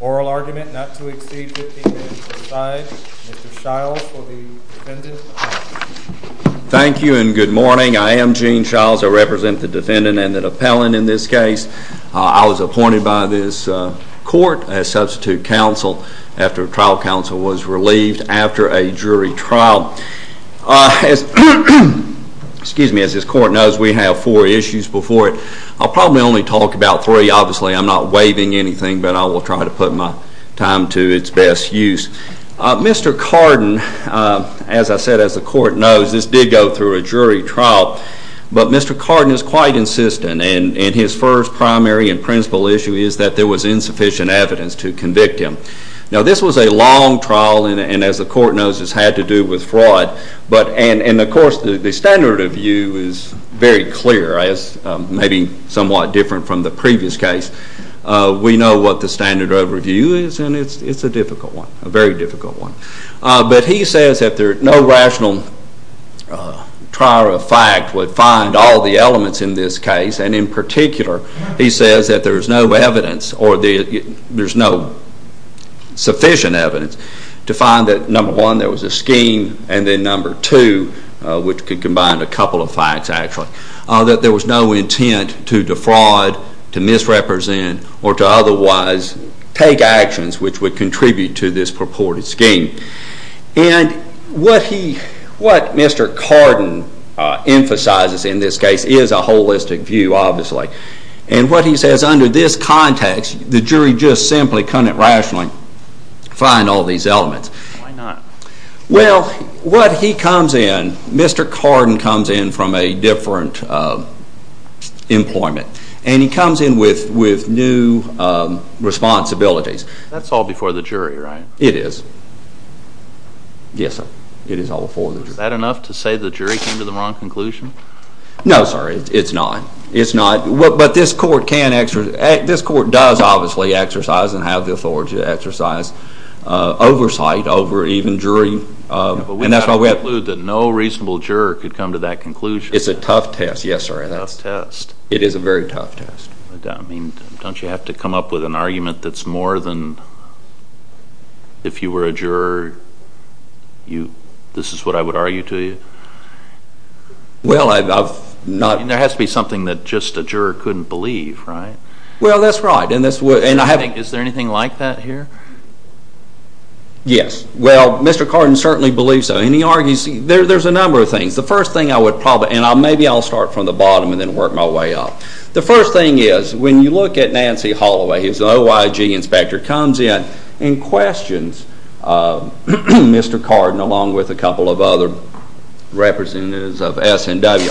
oral argument not to exceed 15 minutes aside. Mr. Shiles for the defendant. Thank you and good morning. I am Gene Shiles. I represent the defendant and the excuse me, as this court knows we have four issues before it. I'll probably only talk about three. Obviously I'm not waiving anything, but I will try to put my time to its best use. Mr. Cardin, as I said, as the court knows, this did go through a jury trial, but Mr. Cardin is quite insistent and his first primary and principal issue is that there was insufficient evidence to convict him. Now this was a long trial and as the court knows this had to do with fraud, and of course the standard of view is very clear as maybe somewhat different from the previous case. We know what the standard of review is and it's a difficult one, a very difficult one. But he says that no rational trier of fact would find all the elements in this case and in particular he says that there's no evidence or there's no sufficient evidence to find that number one there was a scheme and then number two, which could combine a couple of facts actually, that there was no intent to defraud, to misrepresent or to otherwise take actions which would contribute to this purported scheme. And what Mr. Cardin emphasizes in this case is a holistic view obviously and what he says under this context the jury just simply couldn't rationally find all these elements. Why not? Well, what he comes in, Mr. Cardin comes in from a different employment and he comes in with new responsibilities. That's all before the jury, right? It is. Yes, sir. It is all before the jury. Is that enough to say the jury came to the wrong conclusion? No, sir. It's not. It's not. But this court can exercise, this court does obviously exercise and have the authority to exercise oversight over even jury and that's why we have But we have to conclude that no reasonable juror could come to that conclusion. It's a tough test. Yes, sir. A tough test. It is a very tough test. I mean, don't you have to come up with an argument that's more than if you were a juror, this is what I would argue to you? Well, there has to be something that just a juror couldn't believe, right? Well, that's right. Is there anything like that here? Yes. Well, Mr. Cardin certainly believes so and he argues, there's a number of things. The first thing I would probably, and maybe I'll start from the bottom and then work my way up. The first thing is when you look at Nancy Holloway, who's an OIG inspector, comes in and questions Mr. Cardin along with a couple of other representatives of S&W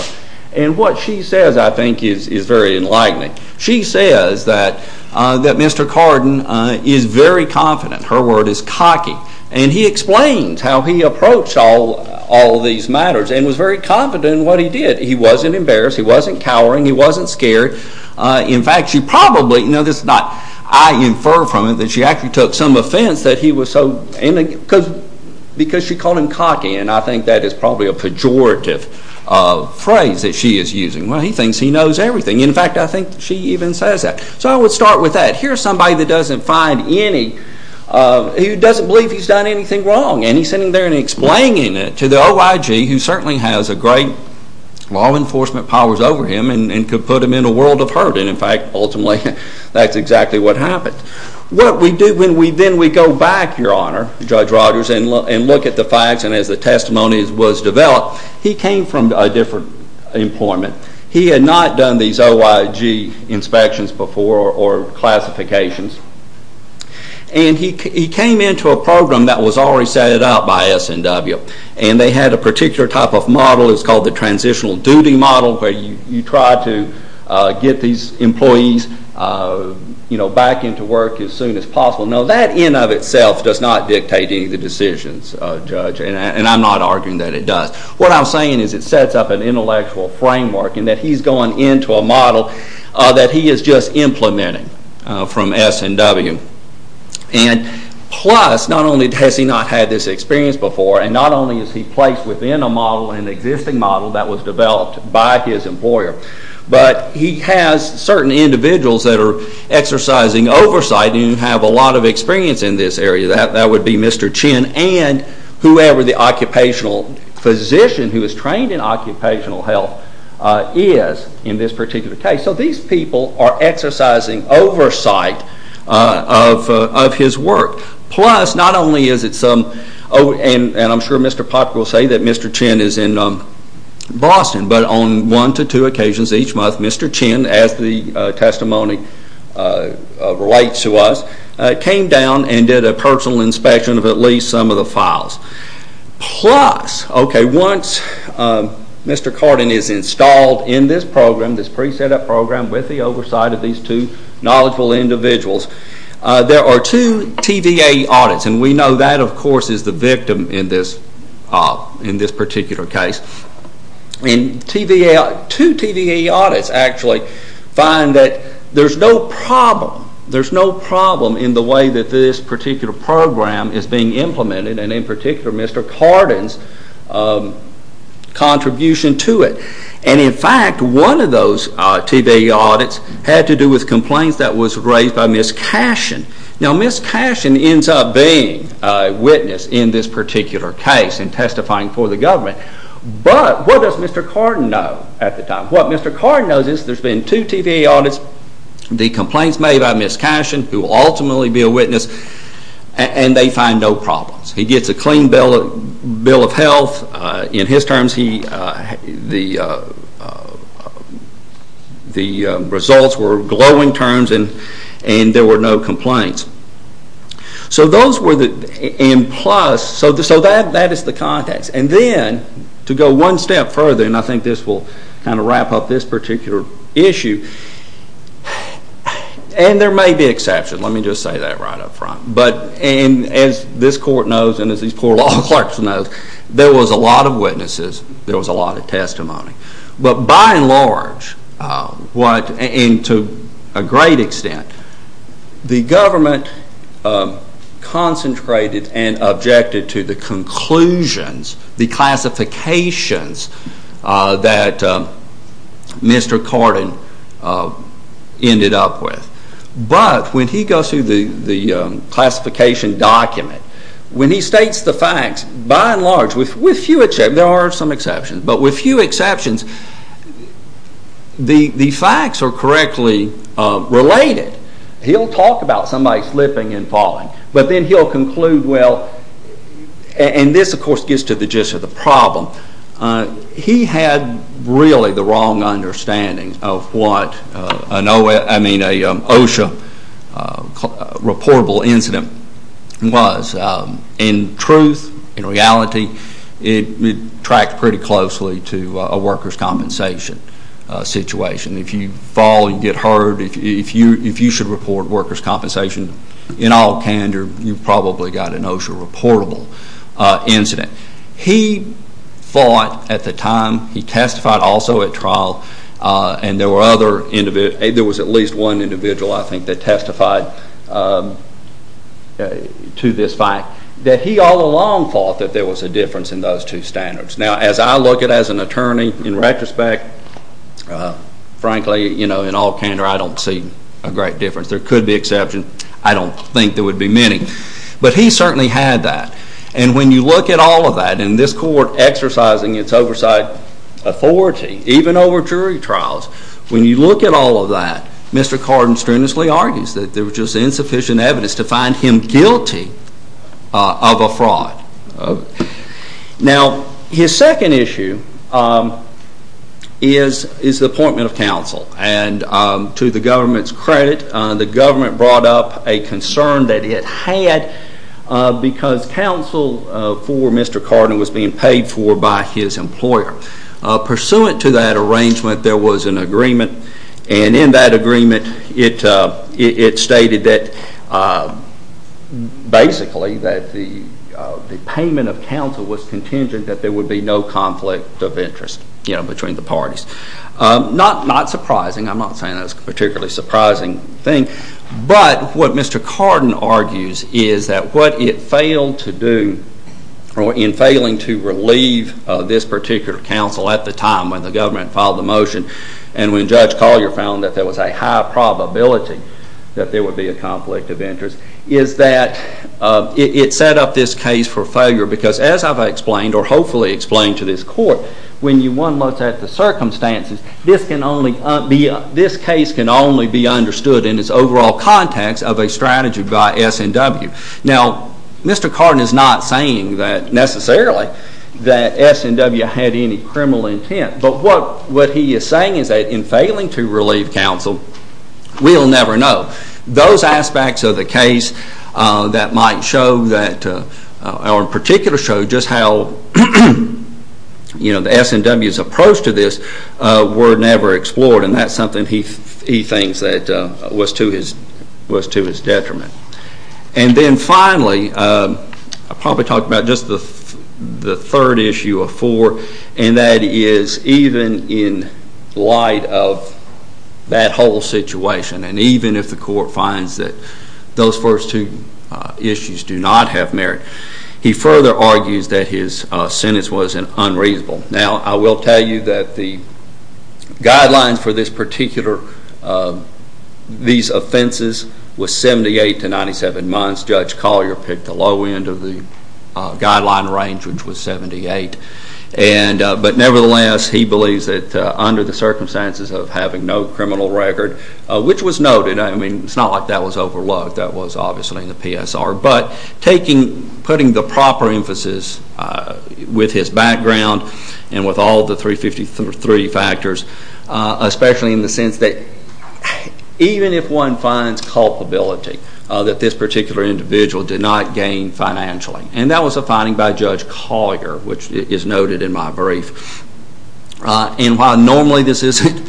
and what she says I think is very enlightening. She says that Mr. Cardin is very confident, her word is cocky, and he explains how he approached all these matters and was very confident in what he did. He wasn't embarrassed, he wasn't cowering, he wasn't scared. In fact, she probably, this is not I infer from it, that she actually took some offense that he was so, because she called him cocky and I think that is probably a pejorative phrase that she is using. Well, he thinks he knows everything. In fact, I think she even says that. So I would start with that. Here's somebody that doesn't find any, who doesn't believe he's done anything wrong and he's sitting there and explaining it to the OIG, who certainly has great law enforcement powers over him and could put him in a world of hurt and in fact, ultimately, that's exactly what happened. What we do when we then go back, Your Honor, Judge Rogers, and look at the facts and as the testimony was developed, he came from a different employment. He had not done these OIG inspections before or classifications and he came into a program that was already set up by SNW and they had a particular type of model, it's called the transitional duty model, where you try to get these employees back into work as soon as possible. Now, that in of itself does not dictate any of the decisions, Judge, and I'm not arguing that it does. What I'm saying is it sets up an intellectual framework and that he's gone into a model that he is just implementing from SNW. And plus, not only has he not had this experience before and not only is he placed within a model, an existing model, that was developed by his employer, but he has certain individuals that are exercising oversight and have a lot of experience in this area. That would be Mr. Chin and whoever the occupational physician who is trained in occupational health is in this particular case. So these people are exercising oversight of his work. Plus, not only is it some, and I'm sure Mr. Popper will say that Mr. Chin is in Boston, but on one to two occasions each month, Mr. Chin, as the testimony relates to us, came down and did a personal inspection of at least some of the files. Plus, once Mr. Cardin is installed in this program, this pre-setup program, with the oversight of these two knowledgeable individuals, there are two TVA audits, and we know that, of course, is the victim in this particular case. And two TVA audits actually find that there's no problem. There's no problem in the way that this particular program is being implemented and in particular Mr. Cardin's contribution to it. And in fact, one of those TVA audits had to do with complaints that was raised by Ms. Cashin. Now Ms. Cashin ends up being a witness in this particular case and testifying for the government. But what does Mr. Cardin know at the time? What Mr. Cardin knows is there's been two TVA audits, the complaints made by Ms. Cashin, who will ultimately be a witness, and they find no problems. He gets a clean bill of health. In his terms, the results were glowing terms and there were no complaints. So those were the, and plus, so that is the context. And then to go one step further, and I think this will kind of wrap up this particular issue, and there may be exceptions. Let me just say that right up front. But as this court knows and as these poor law clerks know, there was a lot of witnesses. There was a lot of testimony. But by and large, and to a great extent, the government concentrated and objected to the conclusions, the classifications that Mr. Cardin ended up with. But when he goes through the classification document, when he states the facts, by and large, with few exceptions, there are some exceptions, but with few exceptions, the facts are correctly related. He'll talk about somebody slipping and falling, but then he'll conclude, well, and this, of course, gets to the gist of the problem. He had really the wrong understanding of what an OSHA reportable incident was. In truth, in reality, it tracked pretty closely to a workers' compensation situation. If you fall, you get hurt, if you should report workers' compensation in all candor, you've probably got an OSHA reportable incident. He thought at the time, he testified also at trial, and there was at least one individual, I think, that testified to this fact, that he all along thought that there was a difference in those two standards. Now, as I look at it as an attorney, in retrospect, frankly, in all candor, I don't see a great difference. There could be exceptions. I don't think there would be many. But he certainly had that, and when you look at all of that, and this court exercising its oversight authority, even over jury trials, when you look at all of that, Mr. Cardin strenuously argues that there was just insufficient evidence to find him guilty of a fraud. Now, his second issue is the appointment of counsel, and to the government's credit, the government brought up a concern that it had because counsel for Mr. Cardin was being paid for by his employer. Pursuant to that arrangement, there was an agreement, and in that agreement, it stated that basically that the payment of counsel was contingent that there would be no conflict of interest between the parties. Not surprising. I'm not saying that's a particularly surprising thing, but what Mr. Cardin argues is that what it failed to do in failing to relieve this particular counsel at the time when the government filed the motion and when Judge Collier found that there was a high probability that there would be a conflict of interest is that it set up this case for failure because, as I've explained, or hopefully explained to this court, when one looks at the circumstances, this case can only be understood in its overall context of a strategy by S&W. Now, Mr. Cardin is not saying necessarily that S&W had any criminal intent, but what he is saying is that in failing to relieve counsel, we'll never know. Those aspects of the case that might show, or in particular show, just how the S&W's approach to this were never explored, and that's something he thinks that was to his detriment. And then finally, I'll probably talk about just the third issue of four, and that is even in light of that whole situation and even if the court finds that those first two issues do not have merit, he further argues that his sentence was unreasonable. Now, I will tell you that the guidelines for these particular offenses was 78 to 97 months. Judge Collier picked the low end of the guideline range, which was 78. But nevertheless, he believes that under the circumstances of having no criminal record, which was noted. I mean, it's not like that was overlooked. That was obviously in the PSR. But putting the proper emphasis with his background and with all the 353 factors, especially in the sense that even if one finds culpability that this particular individual did not gain financially. And that was a finding by Judge Collier, which is noted in my brief. And while normally this isn't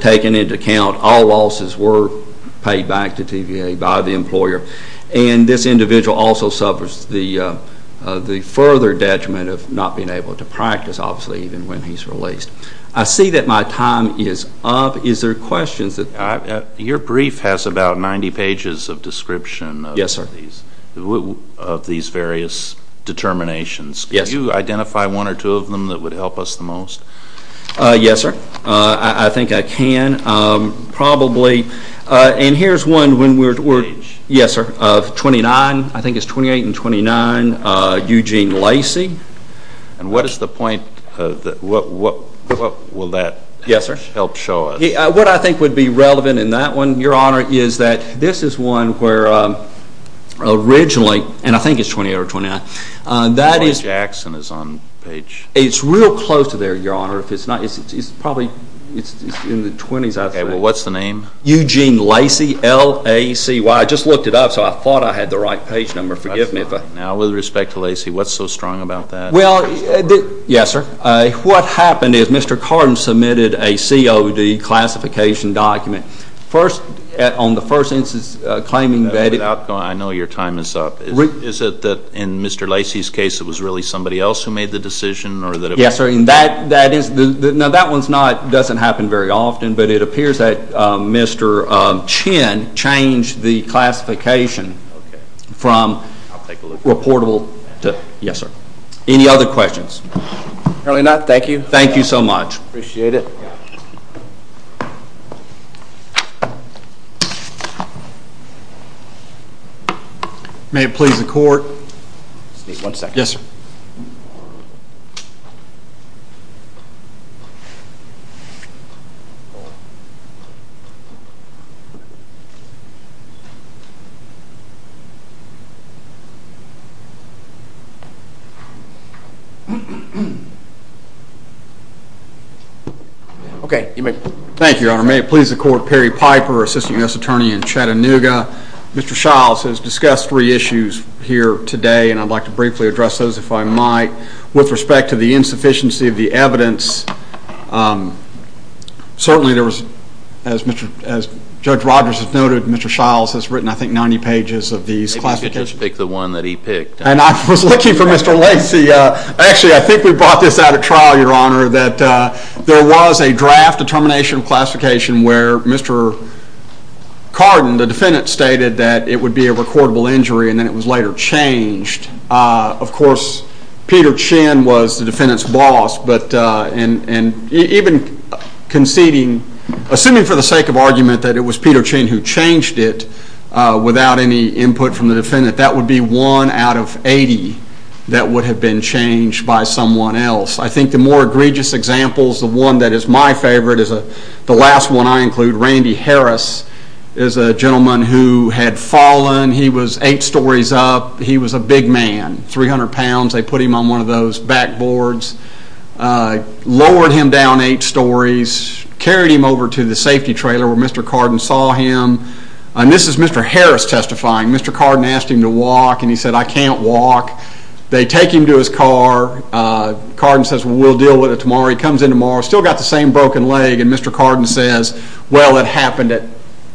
taken into account, all losses were paid back to TVA by the employer. And this individual also suffers the further detriment of not being able to practice, obviously, even when he's released. I see that my time is up. Is there questions? Your brief has about 90 pages of description of these various determinations. Yes. Could you identify one or two of them that would help us the most? Yes, sir. I think I can. Probably. And here's one. Yes, sir. Of 29, I think it's 28 and 29, Eugene Lacey. And what is the point? What will that help show us? Yes, sir. What I think would be relevant in that one, Your Honor, is that this is one where originally, and I think it's 28 or 29. Paul Jackson is on page. It's real close to there, Your Honor. It's probably in the 20s, I think. Okay. Well, what's the name? Eugene Lacey, L-A-C-E-Y. I just looked it up, so I thought I had the right page number. Forgive me. Now, with respect to Lacey, what's so strong about that? Well, yes, sir. What happened is Mr. Cardin submitted a COD classification document. First, on the first instance of claiming vetted. I know your time is up. Is it that in Mr. Lacey's case it was really somebody else who made the decision? Yes, sir. Now, that one doesn't happen very often, but it appears that Mr. Chin changed the classification from reportable to vetted. Yes, sir. Any other questions? Apparently not. Thank you. Thank you so much. Appreciate it. Thank you. May it please the Court. Just need one second. Yes, sir. Thank you, Your Honor. May it please the Court. Perry Piper, Assistant U.S. Attorney in Chattanooga. Mr. Shiles has discussed three issues here today, and I'd like to briefly address those if I might. With respect to the insufficiency of the evidence, certainly there was, as Judge Rogers has noted, Mr. Shiles has written, I think, 90 pages of these classifications. If you could just pick the one that he picked. And I was looking for Mr. Lacey. Actually, I think we brought this out at trial, Your Honor, that there was a draft determination of classification where Mr. Cardin, the defendant, stated that it would be a recordable injury and then it was later changed. Of course, Peter Chin was the defendant's boss, and even conceding, assuming for the sake of argument that it was Peter Chin who changed it without any input from the defendant, that would be one out of 80 that would have been changed by someone else. I think the more egregious examples, the one that is my favorite, is the last one I include. Randy Harris is a gentleman who had fallen. He was eight stories up. He was a big man, 300 pounds. They put him on one of those backboards, lowered him down eight stories, carried him over to the safety trailer where Mr. Cardin saw him. And this is Mr. Harris testifying. Mr. Cardin asked him to walk, and he said, I can't walk. They take him to his car. Cardin says, we'll deal with it tomorrow. He comes in tomorrow, still got the same broken leg, and Mr. Cardin says, well, it happened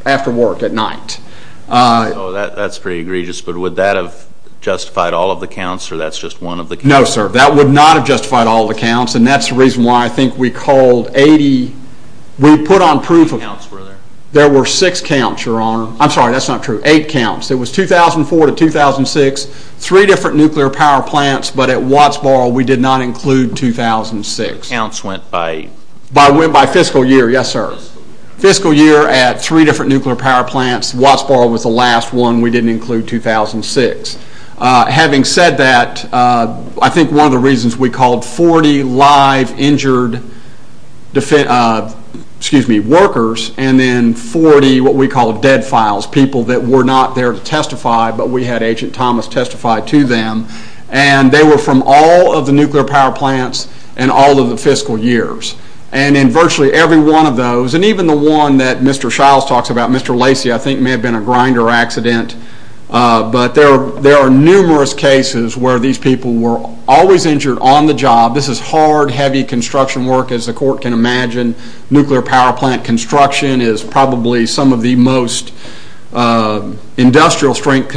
after work at night. So that's pretty egregious, but would that have justified all of the counts, or that's just one of the counts? No, sir. That would not have justified all of the counts, and that's the reason why I think we called 80. We put on proof of it. How many counts were there? There were six counts, Your Honor. I'm sorry, that's not true. Eight counts. It was 2004 to 2006. Three different nuclear power plants, but at Wattsboro we did not include 2006. The counts went by? By fiscal year, yes, sir. Fiscal year at three different nuclear power plants, Wattsboro was the last one we didn't include 2006. Having said that, I think one of the reasons we called 40 live injured workers and then 40 what we call dead files, people that were not there to testify, but we had Agent Thomas testify to them, and they were from all of the nuclear power plants and all of the fiscal years, and in virtually every one of those, and even the one that Mr. Shiles talks about, Mr. Lacey, I think may have been a grinder accident, but there are numerous cases where these people were always injured on the job. This is hard, heavy construction work, as the court can imagine. Nuclear power plant construction is probably some of the most industrial strength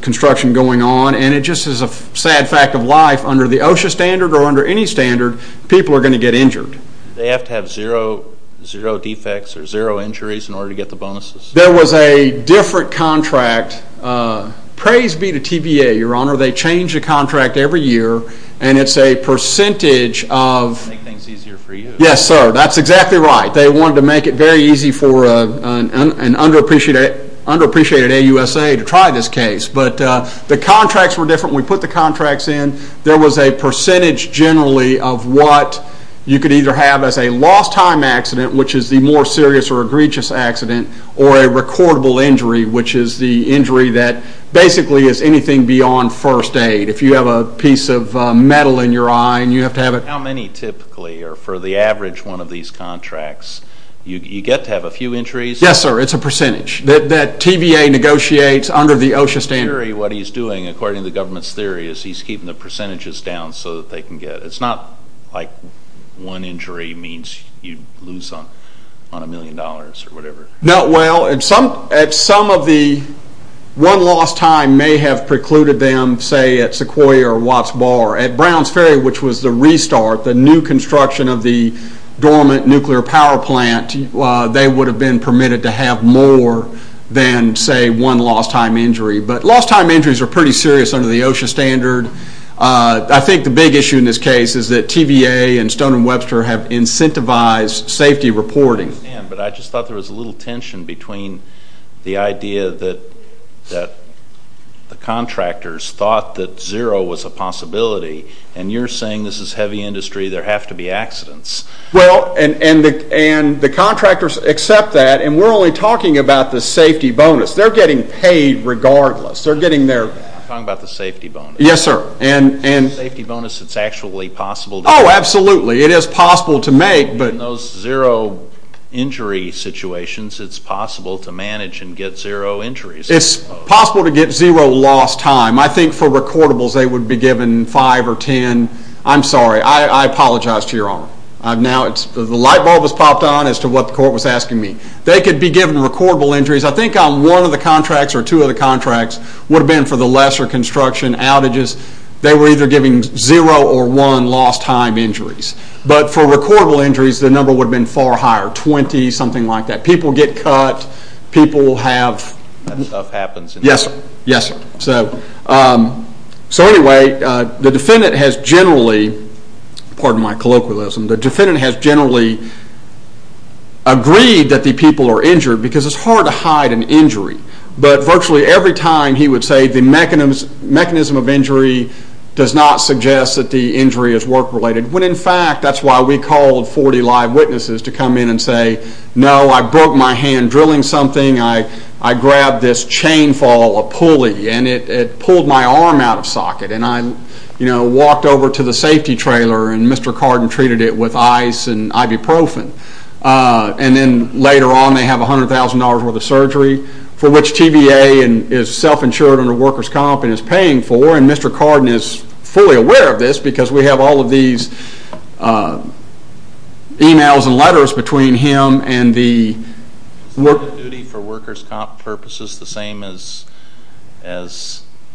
construction going on, and it just is a sad fact of life. Under the OSHA standard or under any standard, people are going to get injured. They have to have zero defects or zero injuries in order to get the bonuses? There was a different contract. Praise be to TVA, Your Honor. They change the contract every year, and it's a percentage of— To make things easier for you. Yes, sir. That's exactly right. They wanted to make it very easy for an underappreciated AUSA to try this case, but the contracts were different. When we put the contracts in, there was a percentage, generally, of what you could either have as a lost time accident, which is the more serious or egregious accident, or a recordable injury, which is the injury that basically is anything beyond first aid. If you have a piece of metal in your eye and you have to have it— How many typically are for the average one of these contracts? You get to have a few injuries? Yes, sir. It's a percentage. That TVA negotiates under the OSHA standard. What he's doing, according to the government's theory, is he's keeping the percentages down so that they can get— It's not like one injury means you lose on a million dollars or whatever. No. Well, at some of the— One lost time may have precluded them, say, at Sequoia or Watts Bar. At Browns Ferry, which was the restart, the new construction of the dormant nuclear power plant, they would have been permitted to have more than, say, one lost time injury. But lost time injuries are pretty serious under the OSHA standard. I think the big issue in this case is that TVA and Stone & Webster have incentivized safety reporting. But I just thought there was a little tension between the idea that the contractors thought that zero was a possibility, and you're saying this is heavy industry, there have to be accidents. Well, and the contractors accept that, and we're only talking about the safety bonus. They're getting paid regardless. You're talking about the safety bonus. Yes, sir. The safety bonus, it's actually possible to— Oh, absolutely. It is possible to make, but— In those zero injury situations, it's possible to manage and get zero injuries. It's possible to get zero lost time. I think for recordables, they would be given five or ten— I'm sorry. I apologize to your honor. The light bulb has popped on as to what the court was asking me. They could be given recordable injuries. I think on one of the contracts or two of the contracts would have been for the lesser construction outages, they were either giving zero or one lost time injuries. But for recordable injuries, the number would have been far higher, 20, something like that. People get cut. People have— That stuff happens. Yes, sir. Yes, sir. Anyway, the defendant has generally— Pardon my colloquialism. The defendant has generally agreed that the people are injured because it's hard to hide an injury. But virtually every time, he would say the mechanism of injury does not suggest that the injury is work-related. When in fact, that's why we called 40 live witnesses to come in and say, no, I broke my hand drilling something. I grabbed this chain fall, a pulley, and it pulled my arm out of socket. And I walked over to the safety trailer, and Mr. Carden treated it with ice and ibuprofen. And then later on, they have $100,000 worth of surgery for which TVA is self-insured under workers' comp and is paying for, and Mr. Carden is fully aware of this because we have all of these emails and letters between him and the— Is the standard of duty for workers' comp purposes the same as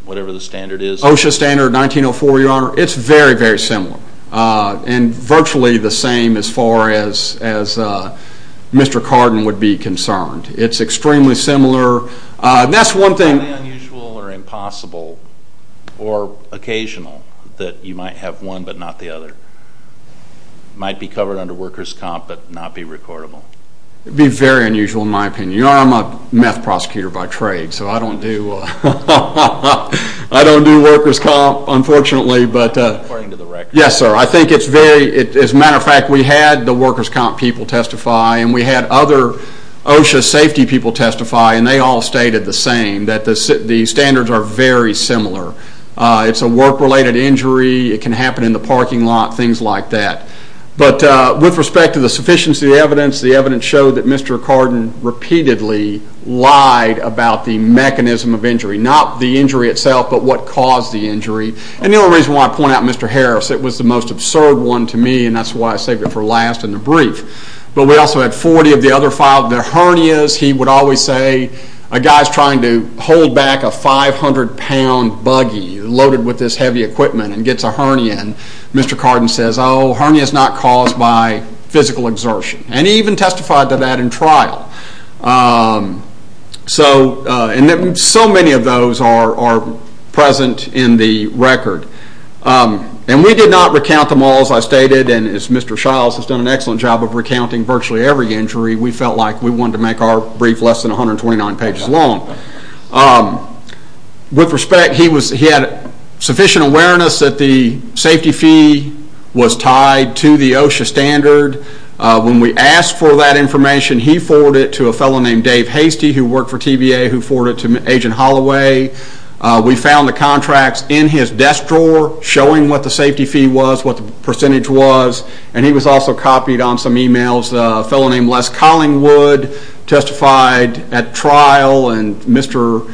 whatever the standard is? OSHA standard 1904, Your Honor, it's very, very similar. And virtually the same as far as Mr. Carden would be concerned. It's extremely similar. That's one thing— Is it unusual or impossible or occasional that you might have one but not the other? It might be covered under workers' comp but not be recordable. It would be very unusual in my opinion. Your Honor, I'm a meth prosecutor by trade, so I don't do workers' comp, unfortunately. According to the record. Yes, sir. I think it's very—as a matter of fact, we had the workers' comp people testify and we had other OSHA safety people testify, and they all stated the same, that the standards are very similar. It's a work-related injury. It can happen in the parking lot, things like that. But with respect to the sufficiency of the evidence, the evidence showed that Mr. Carden repeatedly lied about the mechanism of injury, not the injury itself but what caused the injury. And the only reason why I point out Mr. Harris, it was the most absurd one to me, and that's why I saved it for last in the brief. But we also had 40 of the other five. The hernias, he would always say, a guy's trying to hold back a 500-pound buggy loaded with this heavy equipment and gets a hernia, and Mr. Carden says, oh, a hernia is not caused by physical exertion. And he even testified to that in trial. So many of those are present in the record. And we did not recount them all, as I stated, and as Mr. Shiles has done an excellent job of recounting virtually every injury, we felt like we wanted to make our brief less than 129 pages long. With respect, he had sufficient awareness that the safety fee was tied to the OSHA standard. When we asked for that information, he forwarded it to a fellow named Dave Hastie, who worked for TVA, who forwarded it to Agent Holloway. We found the contracts in his desk drawer showing what the safety fee was, what the percentage was, and he was also copied on some e-mails. A fellow named Les Collingwood testified at trial, and Mr.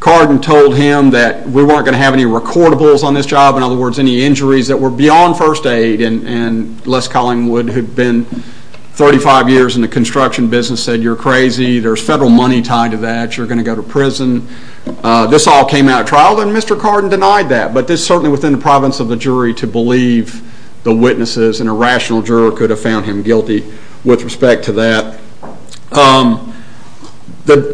Carden told him that we weren't going to have any recordables on this job, in other words, any injuries that were beyond first aid. And Les Collingwood, who'd been 35 years in the construction business, said, you're crazy, there's federal money tied to that, you're going to go to prison. This all came out at trial, and Mr. Carden denied that. But it's certainly within the province of the jury to believe the witnesses, and a rational juror could have found him guilty with respect to that.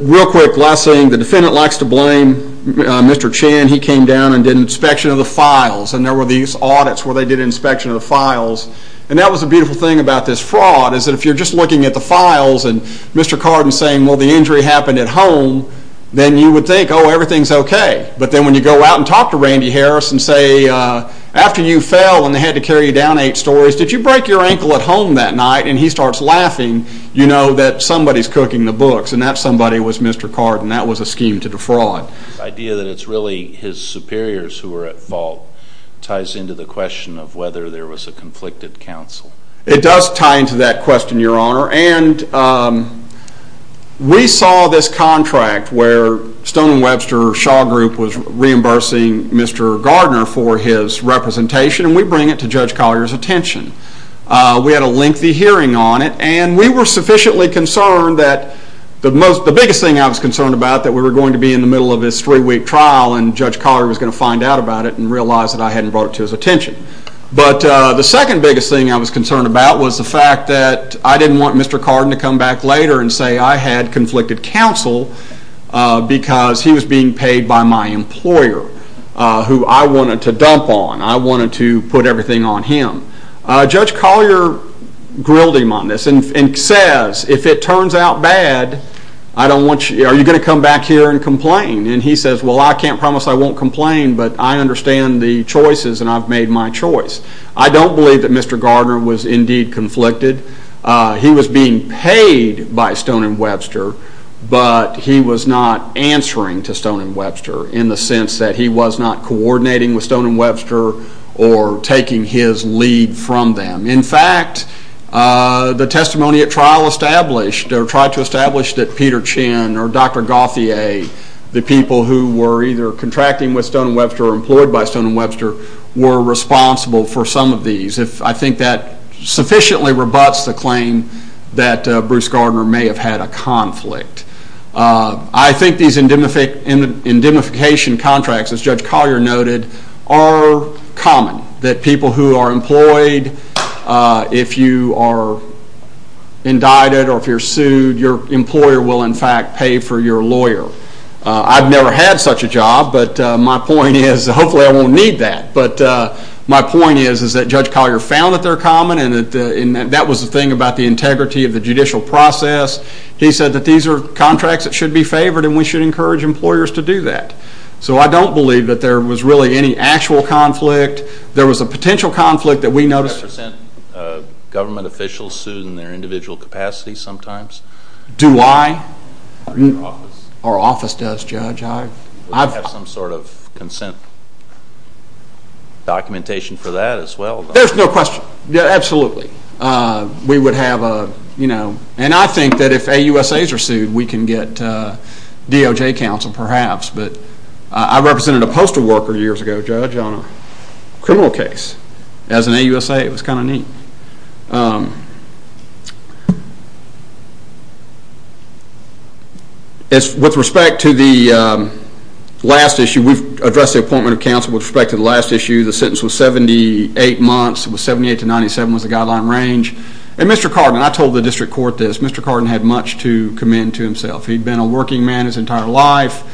Real quick, last thing, the defendant likes to blame Mr. Chan. He came down and did an inspection of the files, and there were these audits where they did an inspection of the files. And that was the beautiful thing about this fraud, is that if you're just looking at the files and Mr. Carden's saying, well, the injury happened at home, then you would think, oh, everything's okay. But then when you go out and talk to Randy Harris and say, after you fell and they had to carry you down eight stories, did you break your ankle at home that night? And he starts laughing, you know that somebody's cooking the books, and that somebody was Mr. Carden. That was a scheme to defraud. The idea that it's really his superiors who were at fault ties into the question of whether there was a conflicted counsel. It does tie into that question, Your Honor. And we saw this contract where Stone and Webster Shaw Group was reimbursing Mr. Gardner for his representation, and we bring it to Judge Collier's attention. We had a lengthy hearing on it, and we were sufficiently concerned that the biggest thing I was concerned about that we were going to be in the middle of this three-week trial and Judge Collier was going to find out about it and realize that I hadn't brought it to his attention. But the second biggest thing I was concerned about was the fact that I didn't want Mr. Carden to come back later and say I had conflicted counsel because he was being paid by my employer, who I wanted to dump on. I wanted to put everything on him. Judge Collier grilled him on this and says, if it turns out bad, are you going to come back here and complain? And he says, well, I can't promise I won't complain, but I understand the choices and I've made my choice. I don't believe that Mr. Gardner was indeed conflicted. He was being paid by Stone and Webster, but he was not answering to Stone and Webster in the sense that he was not coordinating with Stone and Webster or taking his lead from them. In fact, the testimony at trial established or tried to establish that Peter Chinn or Dr. Gauthier, the people who were either contracting with Stone and Webster or employed by Stone and Webster, were responsible for some of these. I think that sufficiently rebuts the claim that Bruce Gardner may have had a conflict. I think these indemnification contracts, as Judge Collier noted, are common, that people who are employed, if you are indicted or if you're sued, your employer will in fact pay for your lawyer. I've never had such a job, but my point is, hopefully I won't need that, but my point is that Judge Collier found that they're common and that was the thing about the integrity of the judicial process. He said that these are contracts that should be favored and we should encourage employers to do that. So I don't believe that there was really any actual conflict. There was a potential conflict that we noticed. Do you ever send government officials sued in their individual capacity sometimes? Do I? Or your office? Our office does, Judge. Do you have some sort of consent documentation for that as well? There's no question. Absolutely. We would have a, you know, and I think that if AUSAs are sued, we can get DOJ counsel perhaps, but I represented a postal worker years ago, Judge, on a criminal case as an AUSA. It was kind of neat. With respect to the last issue, we've addressed the appointment of counsel with respect to the last issue. The sentence was 78 months. It was 78 to 97 was the guideline range. And Mr. Cardin, I told the district court this, Mr. Cardin had much to commend to himself. He'd been a working man his entire life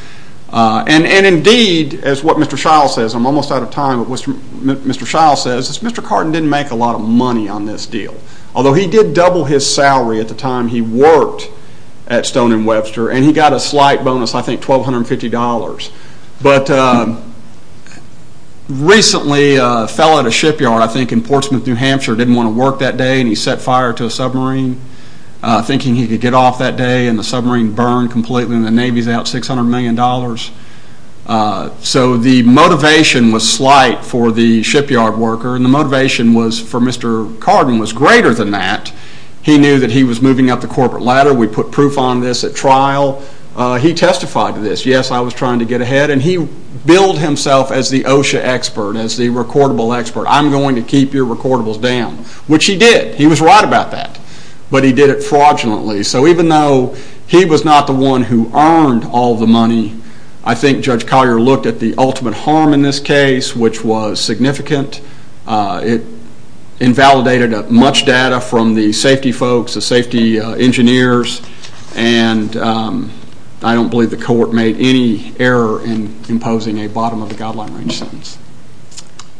and indeed, as what Mr. Shiles says, I'm almost out of time, but Mr. Shiles says, is Mr. Cardin didn't make a lot of money on this deal, although he did double his salary at the time he worked at Stone and Webster and he got a slight bonus, I think, $1,250. But recently fell at a shipyard, I think, in Portsmouth, New Hampshire. Didn't want to work that day and he set fire to a submarine thinking he could get off that day and the submarine burned completely and the Navy's out $600 million. So the motivation was slight for the shipyard worker and the motivation for Mr. Cardin was greater than that. He knew that he was moving up the corporate ladder. We put proof on this at trial. He testified to this. Yes, I was trying to get ahead and he billed himself as the OSHA expert, as the recordable expert. I'm going to keep your recordables down, which he did. He was right about that, but he did it fraudulently. So even though he was not the one who earned all the money, I think Judge Collier looked at the ultimate harm in this case, which was significant. It invalidated much data from the safety folks, the safety engineers, and I don't believe the court made any error in imposing a bottom of the guideline range sentence.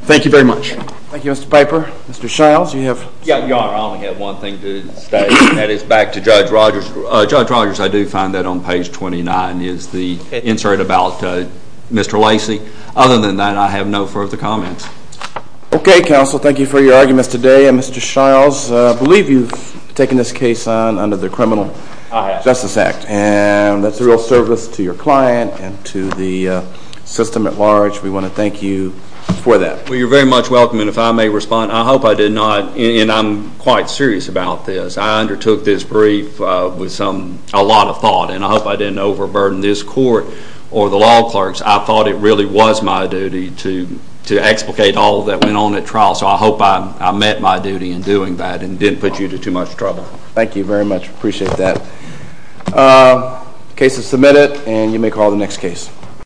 Thank you very much. Thank you, Mr. Piper. Mr. Shiles, you have... Yeah, Your Honor, I only have one thing to state and that is back to Judge Rogers. Judge Rogers, I do find that on page 29 is the insert about Mr. Lacey. Other than that, I have no further comments. Okay, counsel. Thank you for your arguments today, and Mr. Shiles, I believe you've taken this case under the Criminal Justice Act, and that's a real service to your client and to the system at large. We want to thank you for that. Well, you're very much welcome, and if I may respond, I hope I did not, and I'm quite serious about this. I undertook this brief with a lot of thought, and I hope I didn't overburden this court or the law clerks. I thought it really was my duty to explicate all that went on at trial, so I hope I met my duty in doing that and didn't put you to too much trouble. Thank you very much. Appreciate that. Case is submitted, and you may call the next case.